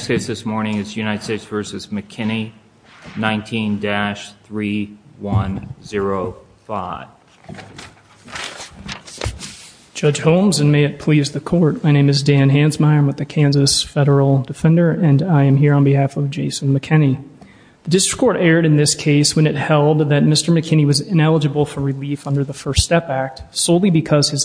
19-3105 Judge Holmes and may it please the court. My name is Dan Hansmeyer. I'm with the Kansas federal defender and I am here on behalf of Jason McKinney. The district court aired in this case when it held that Mr. McKinney was ineligible for relief under the First Step Act solely because his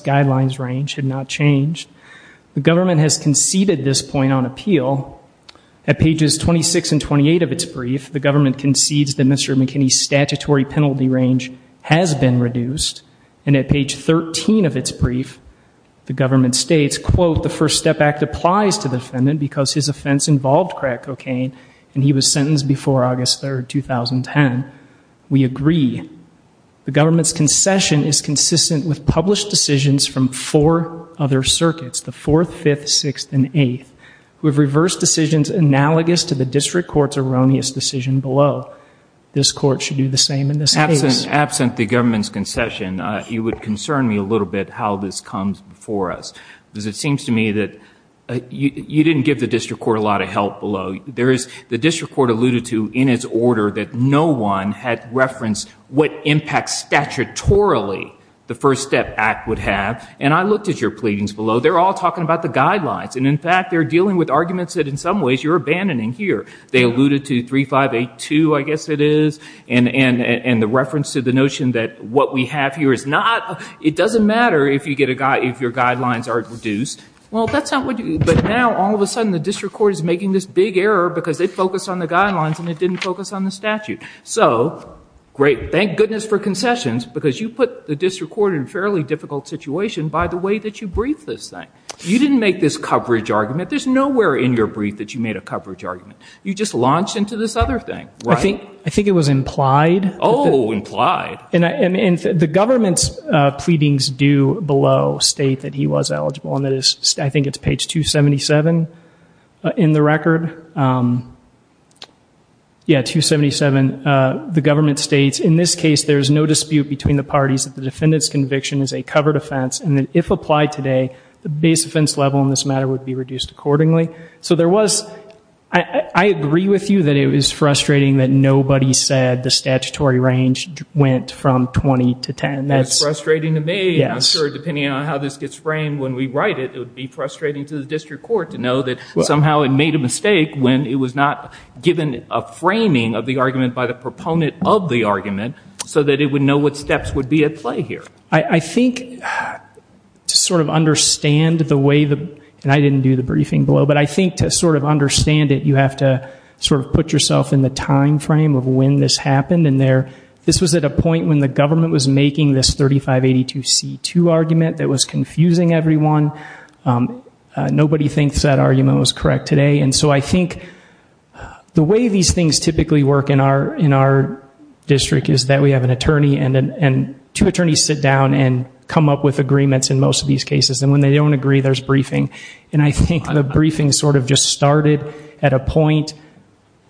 At pages 26 and 28 of its brief, the government concedes that Mr. McKinney's statutory penalty range has been reduced. And at page 13 of its brief, the government states, quote, the First Step Act applies to the defendant because his offense involved crack cocaine and he was sentenced before August 3, 2010. We agree. The government's concession is consistent with published decisions from four other circuits, the 4th, 5th, 6th, and 8th, who have reversed decisions analogous to the district court's erroneous decision below. This court should do the same in this case. Absent the government's concession, you would concern me a little bit how this comes before us. Because it seems to me that you didn't give the district court a lot of help below. There is, the district court alluded to in its order that no one had referenced what impact statutorily the First Step Act would have. And I think in fact they're dealing with arguments that in some ways you're abandoning here. They alluded to 3582, I guess it is, and the reference to the notion that what we have here is not, it doesn't matter if you get a, if your guidelines are reduced. Well, that's not what you, but now all of a sudden the district court is making this big error because they focused on the guidelines and they didn't focus on the statute. So, great, thank goodness for concessions because you put the district court in a fairly difficult situation by the way that you briefed this thing. You didn't make this coverage argument. There's nowhere in your brief that you made a coverage argument. You just launched into this other thing, right? I think it was implied. Oh, implied. And the government's pleadings do below state that he was eligible. And that is, I think it's page 277 in the record. Yeah, 277, the government states, in this case there is no dispute between the parties that the defendant's conviction is a covered offense. And that if applied today, the base offense level in this matter would be reduced accordingly. So, there was, I agree with you that it was frustrating that nobody said the statutory range went from 20 to 10. That's frustrating to me. I'm sure depending on how this gets framed when we write it, it would be frustrating to the district court to know that somehow it made a mistake when it was not given a framing of the argument by the proponent of the argument so that it would know what steps would be at play here. I think to sort of understand the way the, and I didn't do the briefing below, but I think to sort of understand it, you have to sort of put yourself in the time frame of when this happened. And there, this was at a point when the government was making this 3582C2 argument that was confusing everyone. Nobody thinks that argument was correct today. And so, I think the way these things typically work in our district is that we have an attorney and two attorneys sit down and come up with agreements in most of these cases. And when they don't agree, there's briefing. And I think the briefing sort of just started at a point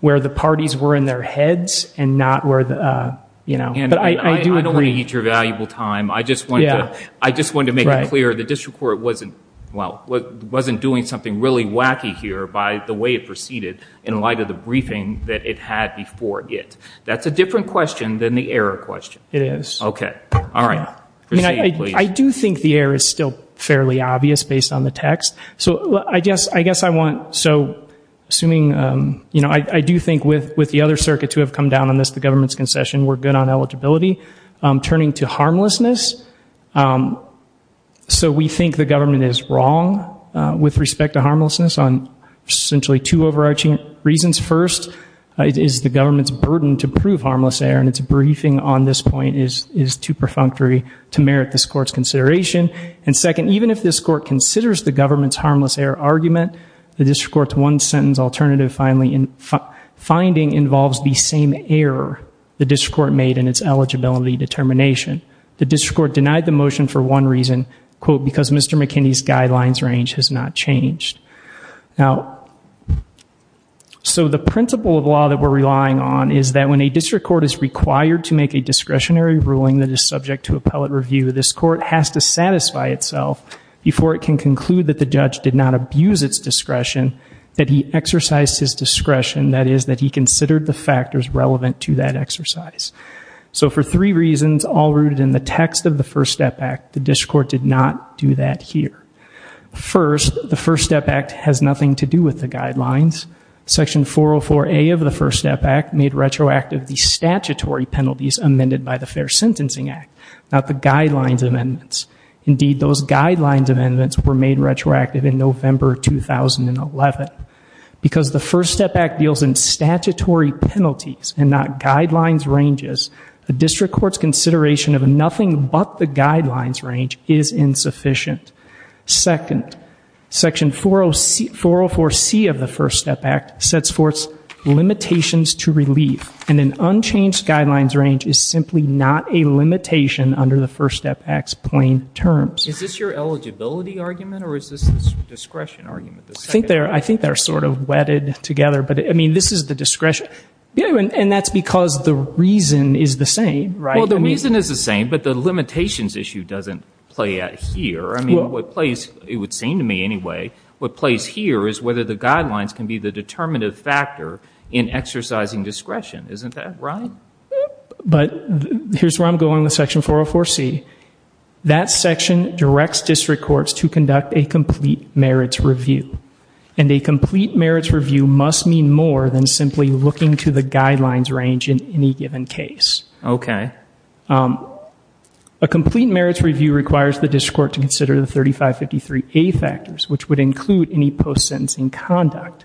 where the parties were in their heads and not where the, you know, but I do agree. I don't want to eat your valuable time. I just wanted to make it clear the district court wasn't, well, wasn't doing something really wacky here by the way it proceeded in light of the briefing that it had before it. That's a different question than the error question. It is. Okay. All right. I do think the error is still fairly obvious based on the text. So, I guess I want, so, assuming, you know, I do think with the other circuit to have come down on this, the government's concession, we're good on eligibility. Turning to harmlessness, so we think the harmlessness on essentially two overarching reasons. First, it is the government's burden to prove harmless error and it's briefing on this point is too perfunctory to merit this court's consideration. And second, even if this court considers the government's harmless error argument, the district court's one sentence alternative finding involves the same error the district court made in its eligibility determination. The district court denied the motion for one reason, quote, because Mr. McKinney's guidelines range has not changed. Now, so, the principle of law that we're relying on is that when a district court is required to make a discretionary ruling that is subject to appellate review, this court has to satisfy itself before it can conclude that the judge did not abuse its discretion, that he exercised his discretion, that is, that he considered the factors relevant to that exercise. So, for three reasons all rooted in the text of the First Step Act, the district court did not do that here. First, the First Step Act has nothing to do with the guidelines. Section 404A of the First Step Act made retroactive the statutory penalties amended by the Fair Sentencing Act, not the guidelines amendments. Indeed, those guidelines amendments were made retroactive in November 2011. Because the First Step Act deals in statutory penalties and not guidelines ranges, the guidelines range is insufficient. Second, Section 404C of the First Step Act sets forth limitations to relieve, and an unchanged guidelines range is simply not a limitation under the First Step Act's plain terms. Is this your eligibility argument or is this the discretion argument? I think they're sort of wedded together, but, I mean, this is the discretion, and that's because the reason is the same. Well, the reason is the same, but the limitations issue doesn't play out here. I mean, what plays, it would seem to me anyway, what plays here is whether the guidelines can be the determinative factor in exercising discretion. Isn't that right? But, here's where I'm going with Section 404C. That section directs district courts to conduct a complete merits review. And a complete merits review must mean more than simply looking to the guidelines range in any given case. Okay. A complete merits review requires the district court to consider the 3553A factors, which would include any post-sentencing conduct.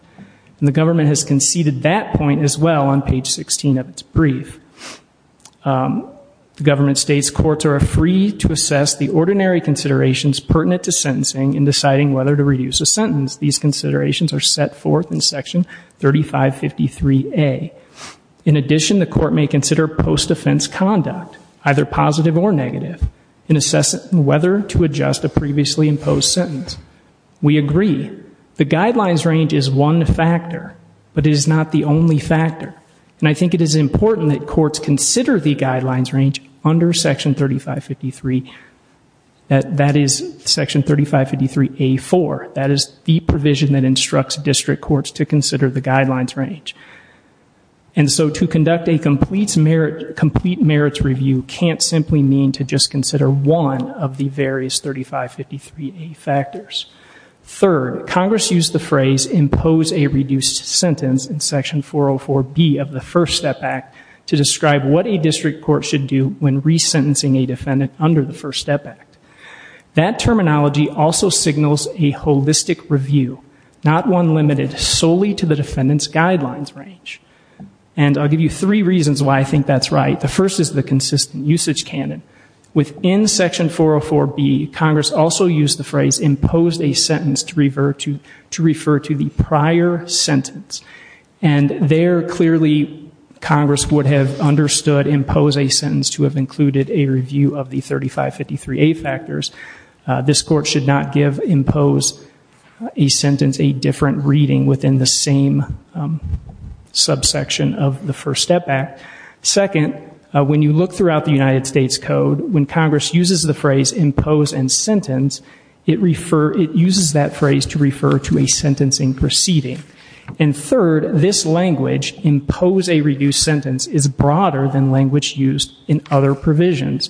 And the government has conceded that point as well on page 16 of its brief. The government states courts are free to assess the ordinary considerations pertinent to sentencing in deciding whether to reduce a sentence. These considerations are set forth in Section 3553A. In addition, the court may consider post-offense conduct, either positive or negative, in assessing whether to adjust a previously imposed sentence. We agree, the guidelines range is one factor, but it is not the only factor. And I think it is important that courts consider the guidelines range under Section 3553, that is Section 3553A.4. That is the provision that instructs district courts to consider the guidelines range. And so to conduct a complete merits review can't simply mean to just consider one of the various 3553A factors. Third, Congress used the phrase impose a reduced sentence in Section 404B of the First Step Act to describe what a district court should do when resentencing a defendant under the First Step Act. That terminology also signals a holistic review, not one limited solely to the defendant's guidelines range. And I'll give you three reasons why I think that's right. The first is the consistent usage canon. Within Section 404B, Congress also used the phrase impose a sentence to refer to the prior sentence. And there, clearly, Congress would have understood impose a sentence to have included a review of the 3553A factors. This court should not give impose a sentence a different reading within the same subsection of the First Step Act. Second, when you look throughout the United States Code, when Congress uses the phrase impose and sentence, it uses that phrase to refer to a sentencing proceeding. And third, this language, impose a reduced sentence, is broader than language used in other provisions,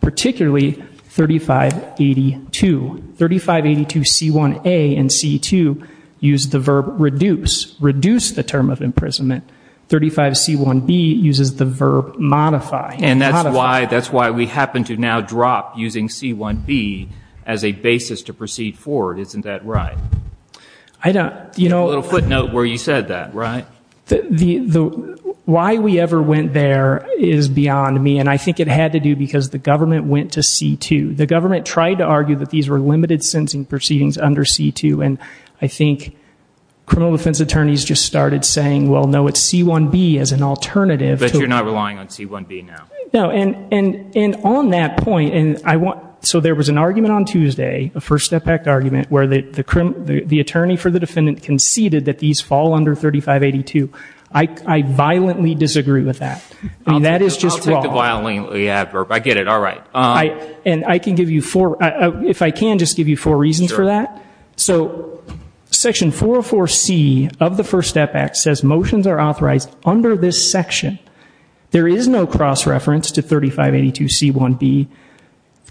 particularly 3582. 3582C1A and C2 use the verb reduce. Reduce the term of imprisonment. 35C1B uses the verb modify. And that's why we happen to now drop using C1B as a basis to proceed forward. Isn't that right? I don't, you know. A little footnote where you said that, right? The, why we ever went there is beyond me. And I think it had to do because the government went to C2. The government tried to argue that these were limited sentencing proceedings under C2. And I think criminal defense attorneys just started saying, well, no, it's C1B as an alternative. But you're not relying on C1B now. No. And on that point, and I want, so there was an argument on Tuesday, a First Step Act argument, where the attorney for the defendant conceded that these fall under 3582. I violently disagree with that. I mean, that is just wrong. I'll take the violently adverb. I get it. All right. And I can give you four, if I can, just give you four reasons for that. So Section 404C of the First Step Act says motions are authorized under this reference to 3582C1B.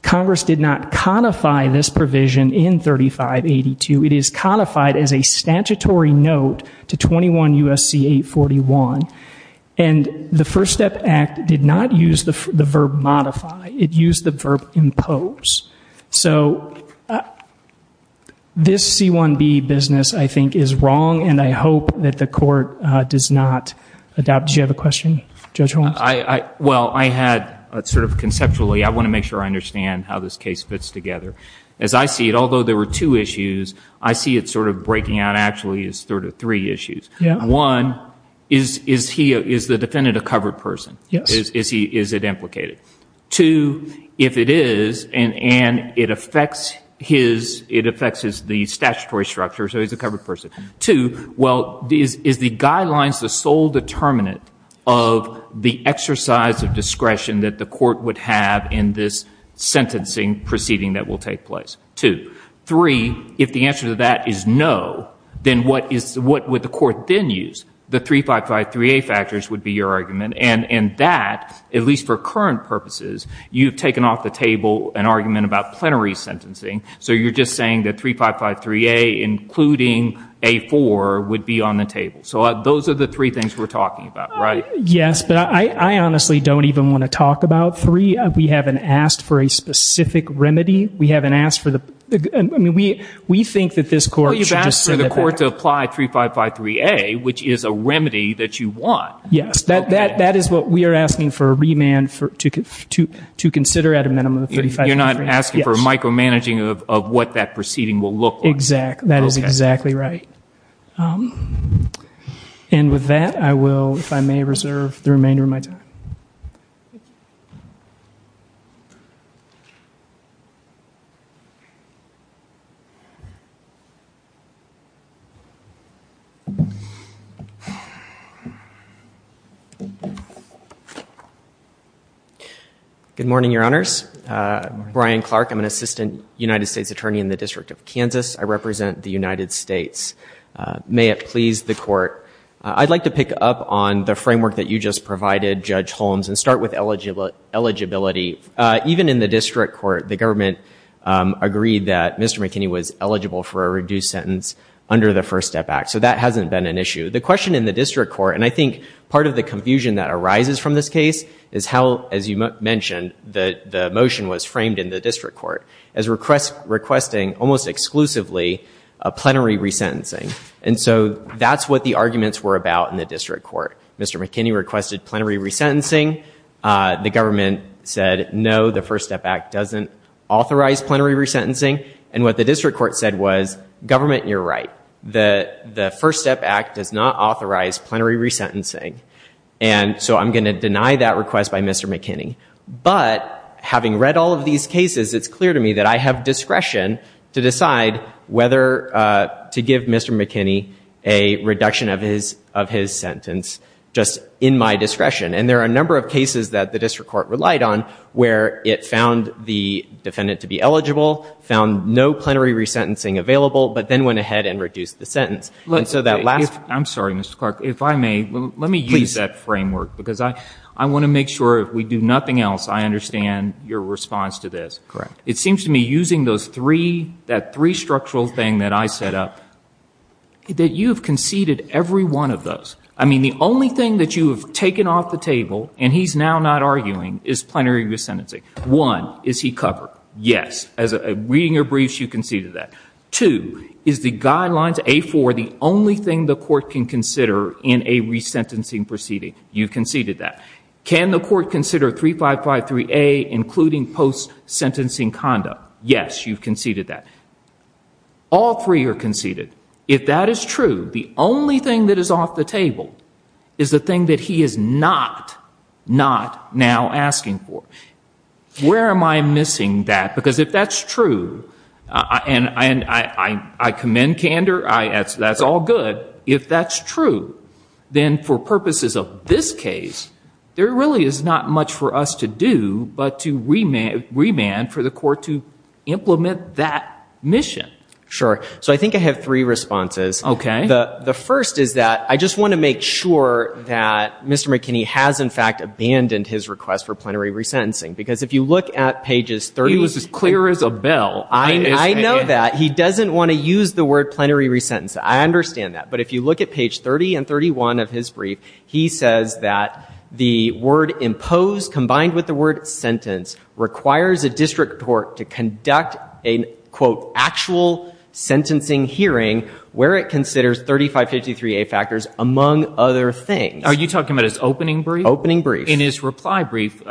Congress did not codify this provision in 3582. It is codified as a statutory note to 21 U.S.C. 841. And the First Step Act did not use the verb modify. It used the verb impose. So this C1B business, I think, is wrong. And I hope that the court does not adopt. Do you have a question, Judge Holmes? Well, I had sort of conceptually, I want to make sure I understand how this case fits together. As I see it, although there were two issues, I see it sort of breaking out actually as sort of three issues. One, is the defendant a covered person? Yes. Is it implicated? Two, if it is, and it affects his, it affects the statutory structure, so he's a covered person. Two, well, is the guidelines the sole determinant of the exercise of discretion that the court would have in this sentencing proceeding that will take place? Two. Three, if the answer to that is no, then what would the court then use? The 3553A factors would be your argument. And that, at least for current purposes, you've taken off the table an argument about plenary sentencing. So you're just saying that 3553A, including A4, would be on the table. So those are the three things we're talking about, right? Yes, but I honestly don't even want to talk about three. We haven't asked for a specific remedy. We haven't asked for the, I mean, we think that this court should just sit it back. Well, you've asked for the court to apply 3553A, which is a remedy that you want. Yes, that is what we are asking for a remand to consider at a minimum of 3553A. You're not asking for micromanaging of what that proceeding will look like. Exactly. That is exactly right. And with that, I will, if I may, reserve the remainder of my time. Thank you. Good morning, Your Honors. Brian Clark, I'm an Assistant United States Attorney in the District of Kansas. I represent the United States. May it please the Court, I'd like to pick up on the framework that you just provided, Judge Holmes, and start with eligibility. Even in the district court, the government agreed that Mr. McKinney was eligible for a reduced sentence under the First Step Act. So that hasn't been an issue. The question in the district court, and I think part of the confusion that arises from this case, is how, as you mentioned, the motion was framed in the district court as requesting almost exclusively a plenary resentencing. And so that's what the arguments were about in the district court. Mr. McKinney requested plenary resentencing. The government said, no, the First Step Act doesn't authorize plenary resentencing. And what the district court said was, government, you're right. The First Step Act does not authorize plenary resentencing. And so I'm going to deny that request by Mr. McKinney. But having read all of these cases, it's clear to me that I have discretion to decide whether to give Mr. McKinney a reduction of his sentence, just in my discretion. And there are a number of cases that the district court relied on where it found the defendant to be eligible, found no plenary resentencing available, but then went ahead and reduced the sentence. And so that last- I'm sorry, Mr. Clark. If I may, let me use that framework. Because I want to make sure if we do nothing else, I understand your response to this. Correct. It seems to me using those three, that three-structural thing that I set up, that you have conceded every one of those. I mean, the only thing that you have taken off the table, and he's now not arguing, is plenary resentencing. One, is he covered? Yes. As a- reading your briefs, you conceded that. Two, is the Guidelines A-4 the only thing the court can consider in a resentencing proceeding? You conceded that. Can the court consider 3553A, including post-sentencing conduct? Yes, you've conceded that. All three are conceded. If that is true, the only thing that is off the table, is the thing that he is not, not now asking for. Where am I missing that? Because if that's true, and I commend candor, that's all good. But if that's true, then for purposes of this case, there really is not much for us to do but to remand for the court to implement that mission. Sure. So I think I have three responses. Okay. The first is that I just want to make sure that Mr. McKinney has in fact abandoned his request for plenary resentencing. Because if you look at pages 30- He was as clear as a bell. I know that. He doesn't want to use the word plenary resentencing. I understand that. But if you look at page 30 and 31 of his brief, he says that the word imposed, combined with the word sentence, requires a district court to conduct a, quote, actual sentencing hearing where it considers 3553A factors, among other things. Are you talking about his opening brief? Opening brief. In his reply brief,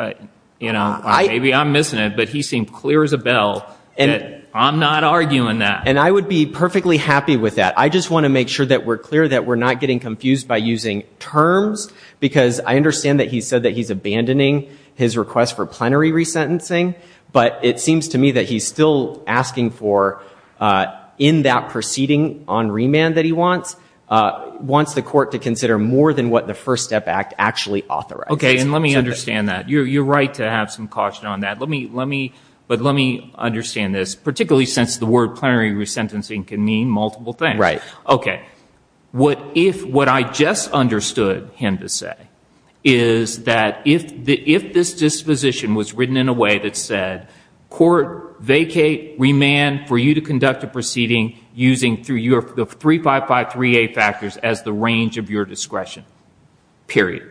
you know, maybe I'm missing it, but he seemed clear as a bell that I'm not arguing that. And I would be perfectly happy with that. I just want to make sure that we're clear that we're not getting confused by using terms. Because I understand that he said that he's abandoning his request for plenary resentencing. But it seems to me that he's still asking for, in that proceeding on remand that he wants, wants the court to consider more than what the First Step Act actually authorizes. Okay. And let me understand that. You're right to have some caution on that. But let me understand this. Particularly since the word plenary resentencing can mean multiple things. Right. Okay. What I just understood him to say is that if this disposition was written in a way that said, court vacate remand for you to conduct a proceeding using the 3553A factors as the range of your discretion. Period.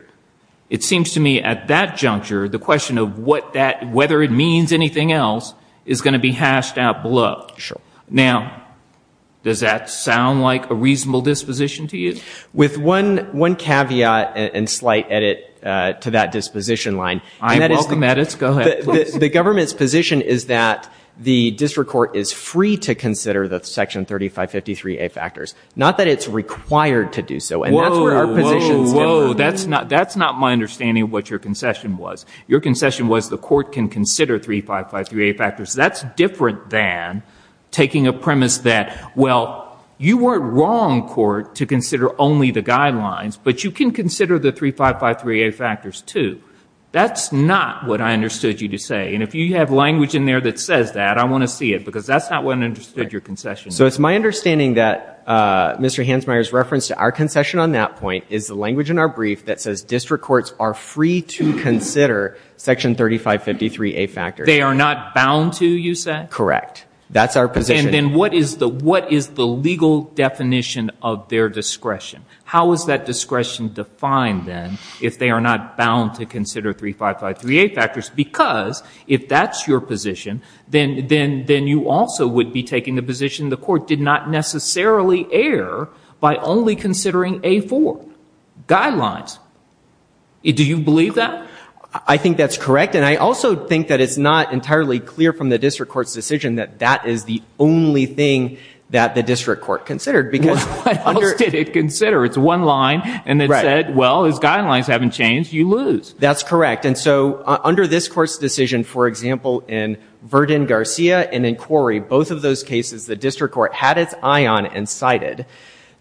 It seems to me at that juncture, the question of whether it means anything else is going to be hashed out below. Sure. Now, does that sound like a reasonable disposition to you? With one caveat and slight edit to that disposition line. I welcome edits. Go ahead. The government's position is that the district court is free to consider the section 3553A factors. Not that it's required to do so. Whoa, whoa, whoa. That's not my understanding of what your concession was. Your concession was the court can consider 3553A factors. That's different than taking a premise that, well, you weren't wrong, court, to consider only the guidelines. But you can consider the 3553A factors, too. That's not what I understood you to say. And if you have language in there that says that, I want to see it. Because that's not what I understood your concession is. So it's my understanding that Mr. Hansmeier's reference to our concession on that point is the language in our brief that says district courts are free to consider section 3553A factors. They are not bound to, you said? Correct. That's our position. And then what is the legal definition of their discretion? How is that discretion defined, then, if they are not bound to consider 3553A factors? Because if that's your position, then you also would be taking the position the court did not necessarily err by only considering A4 guidelines. Do you believe that? I think that's correct. And I also think that it's not entirely clear from the district court's decision that that is the only thing that the district court considered. Because what else did it consider? It's one line. And it said, well, as guidelines haven't changed, you lose. That's correct. And so under this court's decision, for example, in Verdin-Garcia and in Quarry, both of those cases, the district court had its eye on and cited.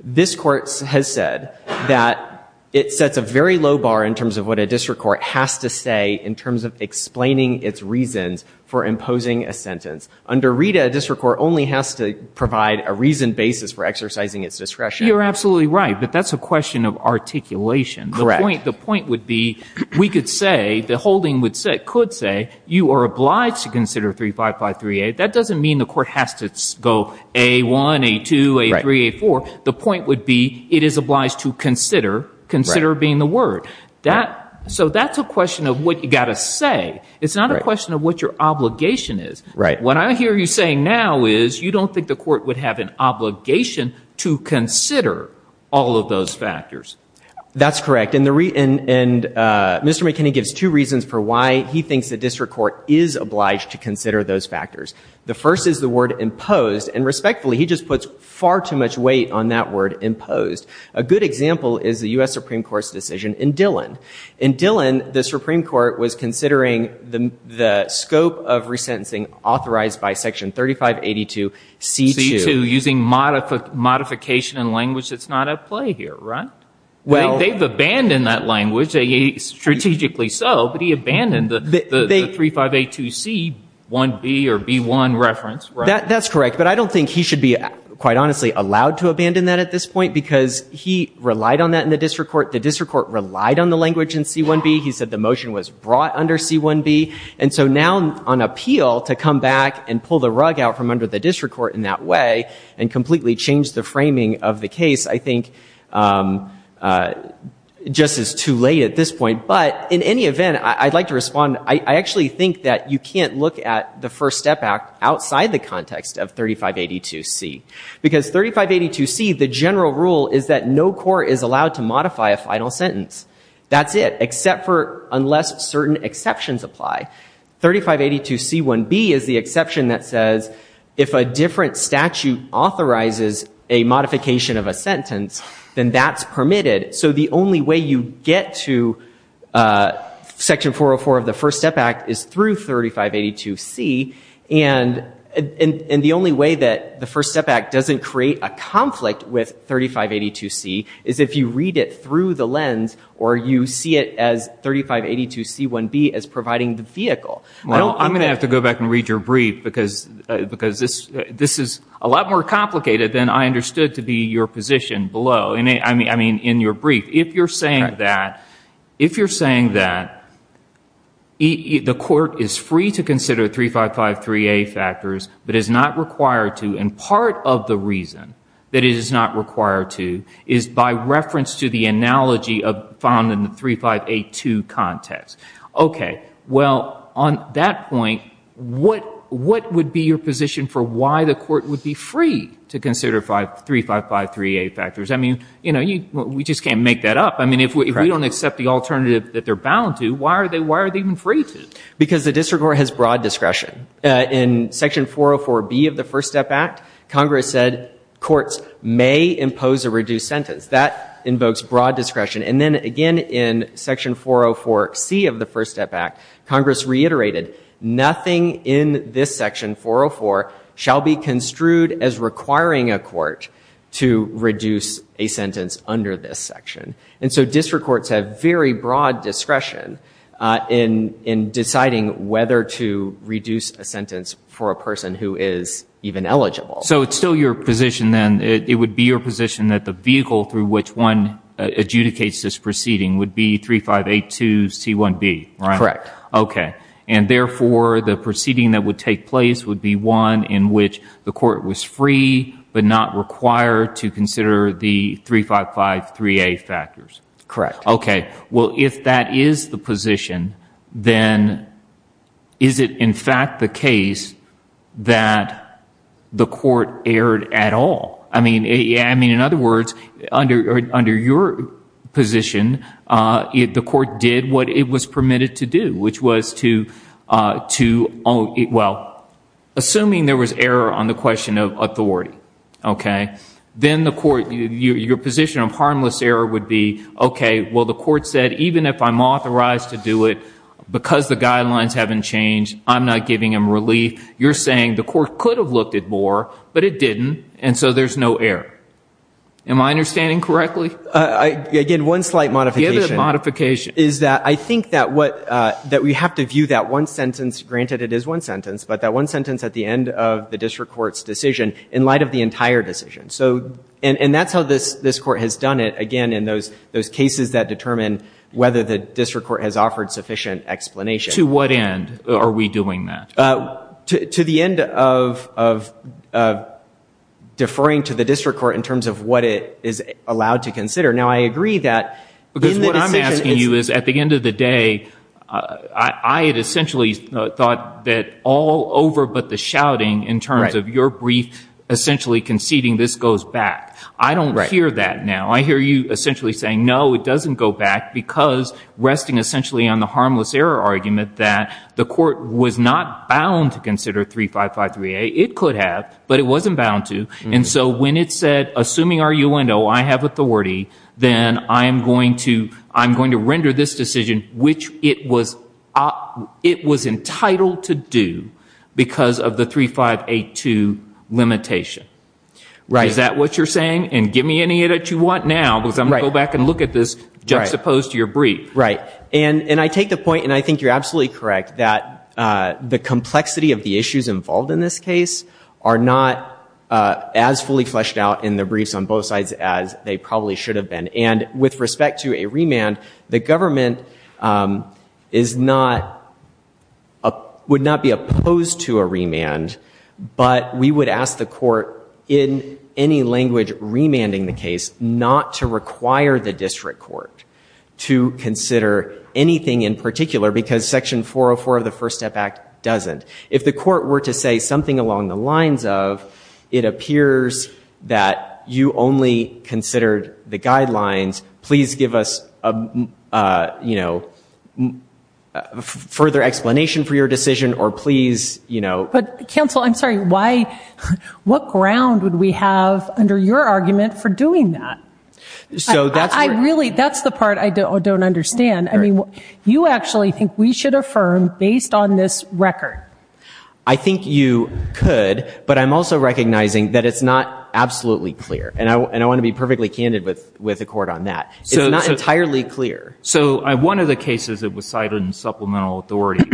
This court has said that it sets a very low bar in terms of what a district court has to say in terms of explaining its reasons for imposing a sentence. Under Rita, a district court only has to provide a reasoned basis for exercising its discretion. You're absolutely right. But that's a question of articulation. Correct. The point would be we could say, the holding could say, you are obliged to consider 3553A. That doesn't mean the court has to go A1, A2, A3, A4. The point would be it is obliged to consider, consider being the word. So that's a question of what you've got to say. It's not a question of what your obligation is. What I hear you saying now is you don't think the court would have an obligation to consider all of those factors. That's correct. And Mr. McKinney gives two reasons for why he thinks the district court is obliged to consider those factors. The first is the word imposed. And respectfully, he just puts far too much weight on that word imposed. A good example is the U.S. Supreme Court's decision in Dillon. In Dillon, the Supreme Court was considering the scope of resentencing authorized by Section 3582C2. Using modification in language that's not at play here, right? Well, they've abandoned that language, strategically so. But he abandoned the 3582C1B or B1 reference. That's correct. But I don't think he should be, quite honestly, allowed to abandon that at this point because he relied on that in the district court. The district court relied on the language in C1B. He said the motion was brought under C1B. And so now, on appeal, to come back and pull the rug out from under the district court in that way and completely change the framing of the case, I think, just is too late at this point. But in any event, I'd like to respond. I actually think that you can't look at the First Step Act outside the context of 3582C. Because 3582C, the general rule is that no court is allowed to modify a final sentence. That's it, except for unless certain exceptions apply. 3582C1B is the exception that says, if a different statute authorizes a modification of a sentence, then that's permitted. So the only way you get to Section 404 of the First Step Act is through 3582C. And the only way that the First Step Act doesn't create a conflict with 3582C is if you read it through the lens or you see it as 3582C1B as providing the vehicle. Well, I'm going to have to go back and read your brief. Because this is a lot more complicated than I understood to be your position below, I mean, in your brief. If you're saying that the court is free to consider 3553A factors, but is not required to. And part of the reason that it is not required to is by reference to the analogy found in the 3582 context. OK, well, on that point, what would be your position for why the court would be free to consider 3553A factors? I mean, we just can't make that up. I mean, if we don't accept the alternative that they're bound to, why are they even free to? Because the district court has broad discretion. In Section 404B of the First Step Act, Congress said courts may impose a reduced sentence. That invokes broad discretion. And then, again, in Section 404C of the First Step Act, Congress reiterated nothing in this section, 404, shall be construed as requiring a court to reduce a sentence under this section. And so district courts have very broad discretion in deciding whether to reduce a sentence for a person who is even eligible. So it's still your position, then, it would be your position that the vehicle through which one adjudicates this proceeding would be 3582C1B, right? Correct. OK. And therefore, the proceeding that would take place would be one in which the court was free but not required to consider the 3553A factors? Correct. OK. Well, if that is the position, then is it, in fact, the case that the court erred at all? I mean, in other words, under your position, the court did what it was permitted to do, which was to, well, assuming there was error on the question of authority, OK? Then your position of harmless error would be, OK, well, the court said, even if I'm authorized to do it, because the guidelines haven't changed, I'm not giving him relief. You're saying the court could have looked at more, but it didn't. And so there's no error. Am I understanding correctly? Again, one slight modification is that I think that we have to view that one sentence, granted it is one sentence, but that one sentence at the end of the district court's decision in light of the entire decision. And that's how this court has done it, again, in those cases that determine whether the district court has offered sufficient explanation. To what end are we doing that? To the end of deferring to the district court in terms of what it is allowed to consider. Now, I agree that in the decision— Because what I'm asking you is, at the end of the day, I had essentially thought that all over but the shouting in terms of your brief essentially conceding this goes back. I don't hear that now. I hear you essentially saying, no, it doesn't go back, because—resting essentially on the harmless error argument that the court was not bound to consider 3553A. It could have, but it wasn't bound to. And so when it said, assuming our UNO, I have authority, then I'm going to render this decision which it was entitled to do because of the 3582 limitation. Right. Is that what you're saying? And give me any of it you want now because I'm going to go back and look at this juxtaposed to your brief. Right. And I take the point, and I think you're absolutely correct, that the complexity of the issues involved in this case are not as fully fleshed out in the briefs on both sides as they probably should have been. And with respect to a remand, the government would not be opposed to a remand, but we would ask the court in any language remanding the case not to require the district court to consider anything in particular because Section 404 of the First Step Act doesn't. If the court were to say something along the lines of, it appears that you only considered the guidelines, please give us further explanation for your decision, or please, you know. But counsel, I'm sorry, what ground would we have under your argument for doing that? So that's where. I really, that's the part I don't understand. I mean, you actually think we should affirm based on this record. I think you could, but I'm also recognizing that it's not absolutely clear. And I want to be perfectly candid with the court on that. It's not entirely clear. So one of the cases that was cited in supplemental authority,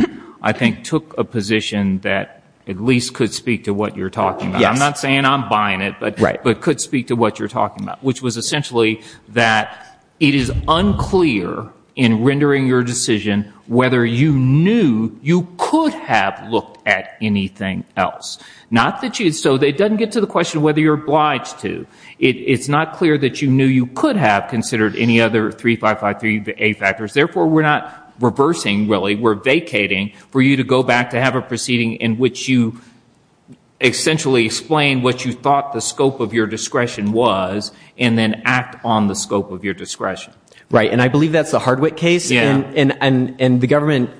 I think, took a position that at least could speak to what you're talking about. Yes. I'm not saying I'm buying it. Right. But could speak to what you're talking about, which was essentially that it is unclear in rendering your decision whether you knew you could have looked at anything else. Not that you, so it doesn't get to the question whether you're obliged to. It's not clear that you knew you could have considered any other 3553A factors. Therefore, we're not reversing, really. We're vacating for you to go back to have a proceeding in which you essentially explain what you thought the scope of your discretion was and then act on the scope of your discretion. Right. And I believe that's the Hardwick case. Yeah. And the government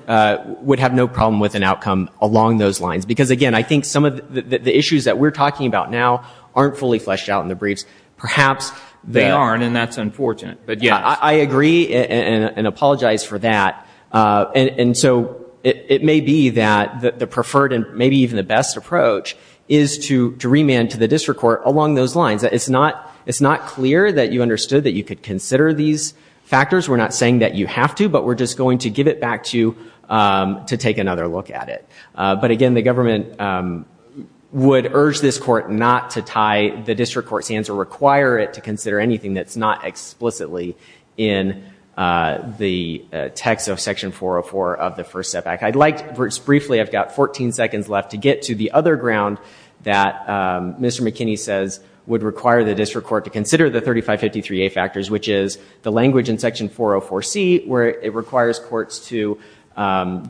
would have no problem with an outcome along those lines. Because, again, I think some of the issues that we're talking about now aren't fully fleshed out in the briefs. Perhaps they are. They aren't, and that's unfortunate. But yeah. I agree and apologize for that. And so it may be that the preferred and maybe even the best approach is to remand to the district court along those lines. It's not clear that you understood that you could consider these factors. We're not saying that you have to, but we're just going to give it back to you to take another look at it. But again, the government would urge this court not to tie the district court's hands or require it to consider anything that's not explicitly in the text of Section 404 of the First Step Act. Briefly, I've got 14 seconds left to get to the other ground that Mr. McKinney says would require the district court to consider the 3553A factors, which is the language in Section 404C where it requires courts to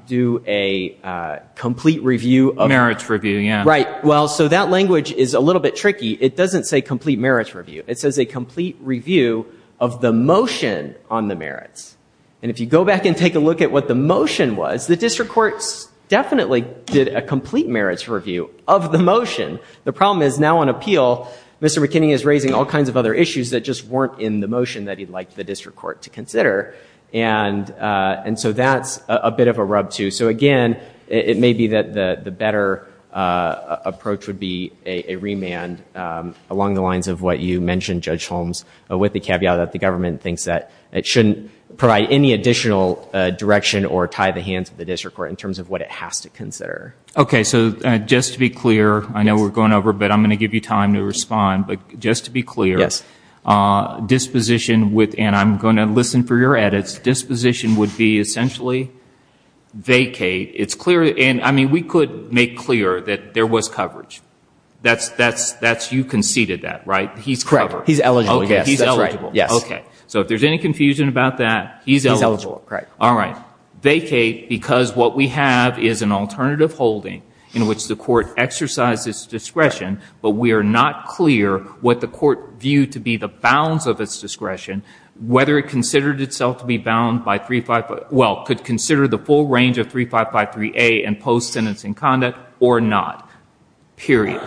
do a complete review of the merits. Merits review, yeah. Right. Well, so that language is a little bit tricky. It doesn't say complete merits review. It says a complete review of the motion on the merits. And if you go back and take a look at what the motion was, the district courts definitely did a complete merits review of the motion. The problem is now on appeal, Mr. McKinney is raising all kinds of other issues that just weren't in the motion that he'd like the district court to consider. And so that's a bit of a rub, too. So, again, it may be that the better approach would be a remand along the lines of what you mentioned, Judge Holmes, with the caveat that the government thinks that it shouldn't provide any additional direction or tie the hands of the district court in terms of what it has to consider. Okay. So just to be clear, I know we're going over, but I'm going to give you time to respond, but just to be clear. Yes. Disposition with, and I'm going to listen for your edits, disposition would be essentially vacate. It's clear, and, I mean, we could make clear that there was coverage. That's, you conceded that, right? He's covered. Correct. He's eligible. Okay. He's eligible. Yes. Okay. So if there's any confusion about that, he's eligible. He's eligible. Correct. All right. Vacate because what we have is an alternative holding in which the court exercises discretion, but we are not clear what the court viewed to be the bounds of its discretion, whether it considered itself to be bound by 355, well, could consider the full range of 3553A and post-sentencing conduct or not, period.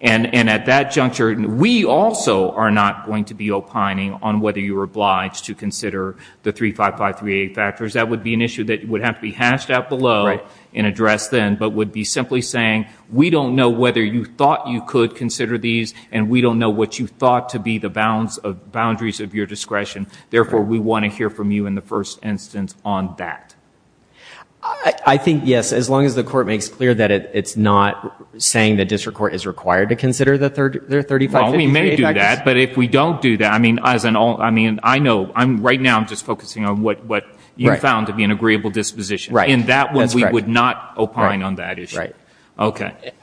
And at that juncture, we also are not going to be opining on whether you were obliged to consider the 3553A factors. That would be an issue that would have to be hashed out below and addressed then, but would be simply saying we don't know whether you thought you could consider these and we don't know what you thought to be the boundaries of your discretion. Therefore, we want to hear from you in the first instance on that. I think, yes, as long as the court makes clear that it's not saying the district court is required to consider the 3553A factors. Well, we may do that, but if we don't do that, I mean, I know, right now, I'm just focusing on what you found to be an agreeable disposition. Right. In that one, we would not opine on that issue. Right.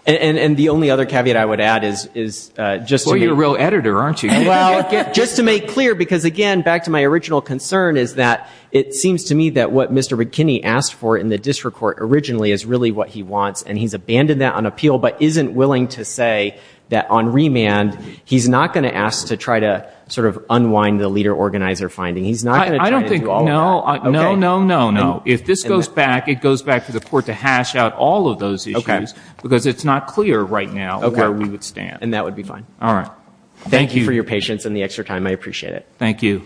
And the only other caveat I would add is just to make clear. Well, you're a real editor, aren't you? Well, just to make clear because, again, to add back to my original concern is that it seems to me that what Mr. McKinney asked for in the district court originally is really what he wants, and he's abandoned that on appeal, but isn't willing to say that on remand, he's not going to ask to try to sort of unwind the leader-organizer finding. He's not going to try to do all of that. No, no, no, no. If this goes back, it goes back to the court to hash out all of those issues. Okay. Because it's not clear right now where we would stand. And that would be fine. All right. Thank you. Thank you for your patience and the extra time. I appreciate it. Thank you.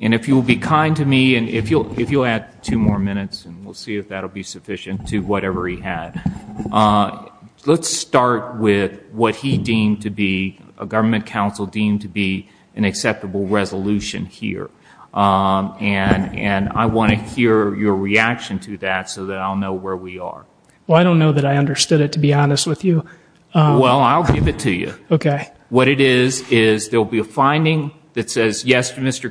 And if you'll be kind to me and if you'll add two more minutes, and we'll see if that will be sufficient to whatever he had, let's start with what he deemed to be a government council deemed to be an acceptable resolution here. And I want to hear your reaction to that so that I'll know where we are. Well, I don't know that I understood it, to be honest with you. Well, I'll give it to you. Okay. What it is is there will be a finding that says, yes, Mr.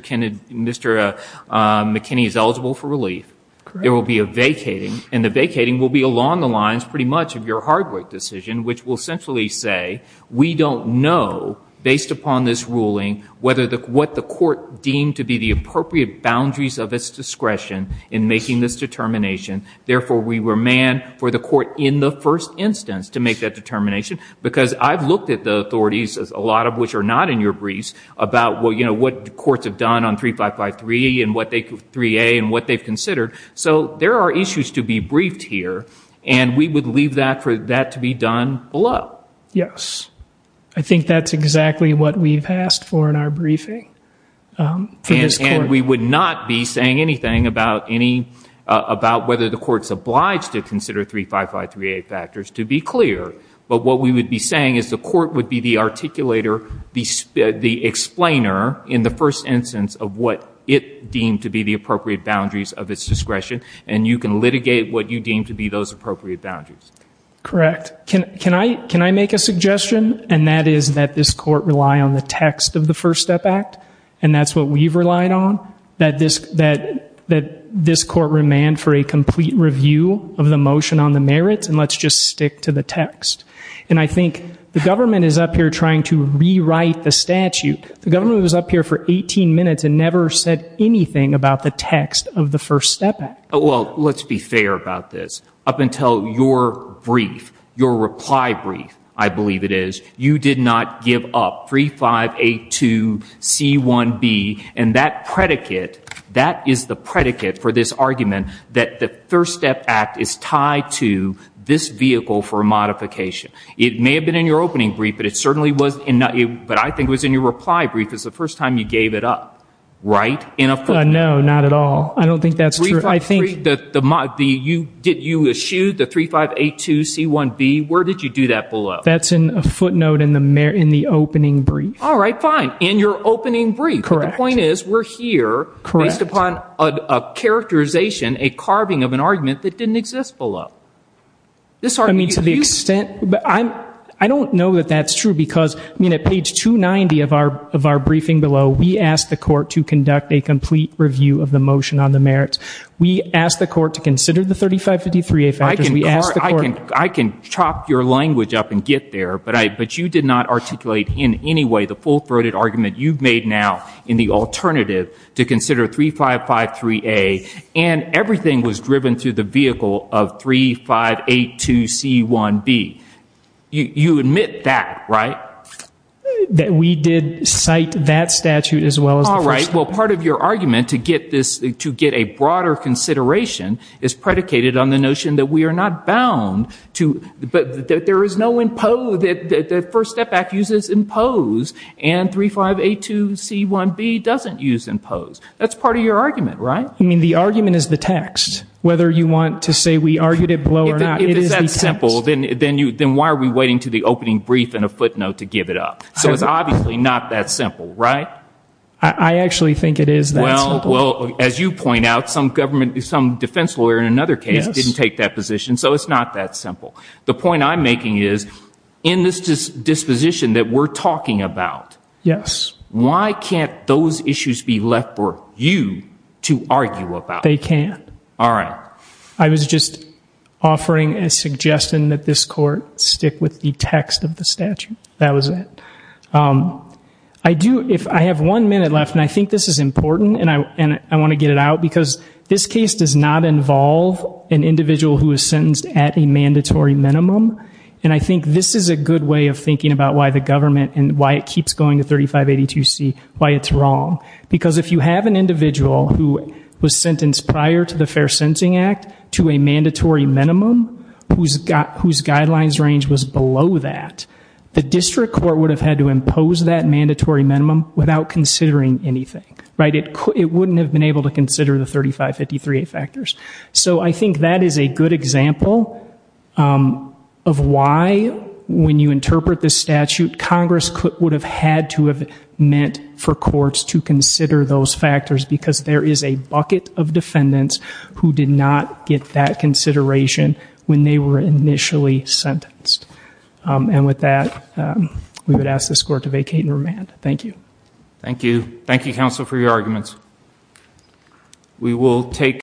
McKinney is eligible for relief. Correct. There will be a vacating, and the vacating will be along the lines pretty much of your hard work decision, which will essentially say we don't know, based upon this ruling, what the court deemed to be the appropriate boundaries of its discretion in making this determination. Therefore, we were manned for the court in the first instance to make that determination, because I've looked at the authorities, a lot of which are not in your briefs, about what courts have done on 3553 and 3A and what they've considered. So there are issues to be briefed here. And we would leave that for that to be done below. Yes. I think that's exactly what we've asked for in our briefing for this court. And we would not be saying anything about whether the court's obliged to consider 35538 factors, to be clear. But what we would be saying is the court would be the articulator, the explainer, in the first instance of what it deemed to be the appropriate boundaries of its discretion, and you can litigate what you deem to be those appropriate boundaries. Correct. Can I make a suggestion, and that is that this court rely on the text of the First Step Act, and that's what we've relied on, that this court remain for a complete review of the motion on the merits, and let's just stick to the text. And I think the government is up here trying to rewrite the statute. The government was up here for 18 minutes and never said anything about the text of the First Step Act. Well, let's be fair about this. Up until your brief, your reply brief, I believe it is, you did not give up 3582C1B, and that predicate, that is the predicate for this argument that the First Step Act is tied to this vehicle for modification. It may have been in your opening brief, but I think it was in your reply brief is the first time you gave it up, right? No, not at all. I don't think that's true. Did you eschew the 3582C1B? Where did you do that below? That's in a footnote in the opening brief. All right, fine, in your opening brief. But the point is we're here based upon a characterization, a carving of an argument that didn't exist below. I mean, to the extent, I don't know that that's true because, I mean, at page 290 of our briefing below, we asked the court to conduct a complete review of the motion on the merits. We asked the court to consider the 3553A factors. I can chop your language up and get there, but you did not articulate in any way the full-throated argument you've made now in the alternative to consider 3553A, and everything was driven through the vehicle of 3582C1B. You admit that, right? That we did cite that statute as well as the first one. All right, well, part of your argument to get a broader consideration is predicated on the notion that we are not bound to, but that there is no impose, that the First Step Act uses impose, and 3582C1B doesn't use impose. That's part of your argument, right? I mean, the argument is the text. Whether you want to say we argued it below or not, it is the text. If it's that simple, then why are we waiting to the opening brief and a footnote to give it up? So it's obviously not that simple, right? I actually think it is that simple. Well, as you point out, some defense lawyer in another case didn't take that position, so it's not that simple. The point I'm making is, in this disposition that we're talking about, why can't those issues be left for you to argue about? They can't. All right. I was just offering a suggestion that this Court stick with the text of the statute. That was it. I have one minute left, and I think this is important, and I want to get it out, because this case does not involve an individual who is sentenced at a mandatory minimum, and I think this is a good way of thinking about why the government and why it keeps going to 3582C, why it's wrong. Because if you have an individual who was sentenced prior to the Fair Sentencing Act to a mandatory minimum, whose guidelines range was below that, the district court would have had to impose that mandatory minimum without considering anything. It wouldn't have been able to consider the 3553A factors. So I think that is a good example of why, when you interpret this statute, Congress would have had to have meant for courts to consider those factors, because there is a bucket of defendants who did not get that consideration when they were initially sentenced. And with that, we would ask this Court to vacate and remand. Thank you. Thank you. Thank you, counsel, for your arguments.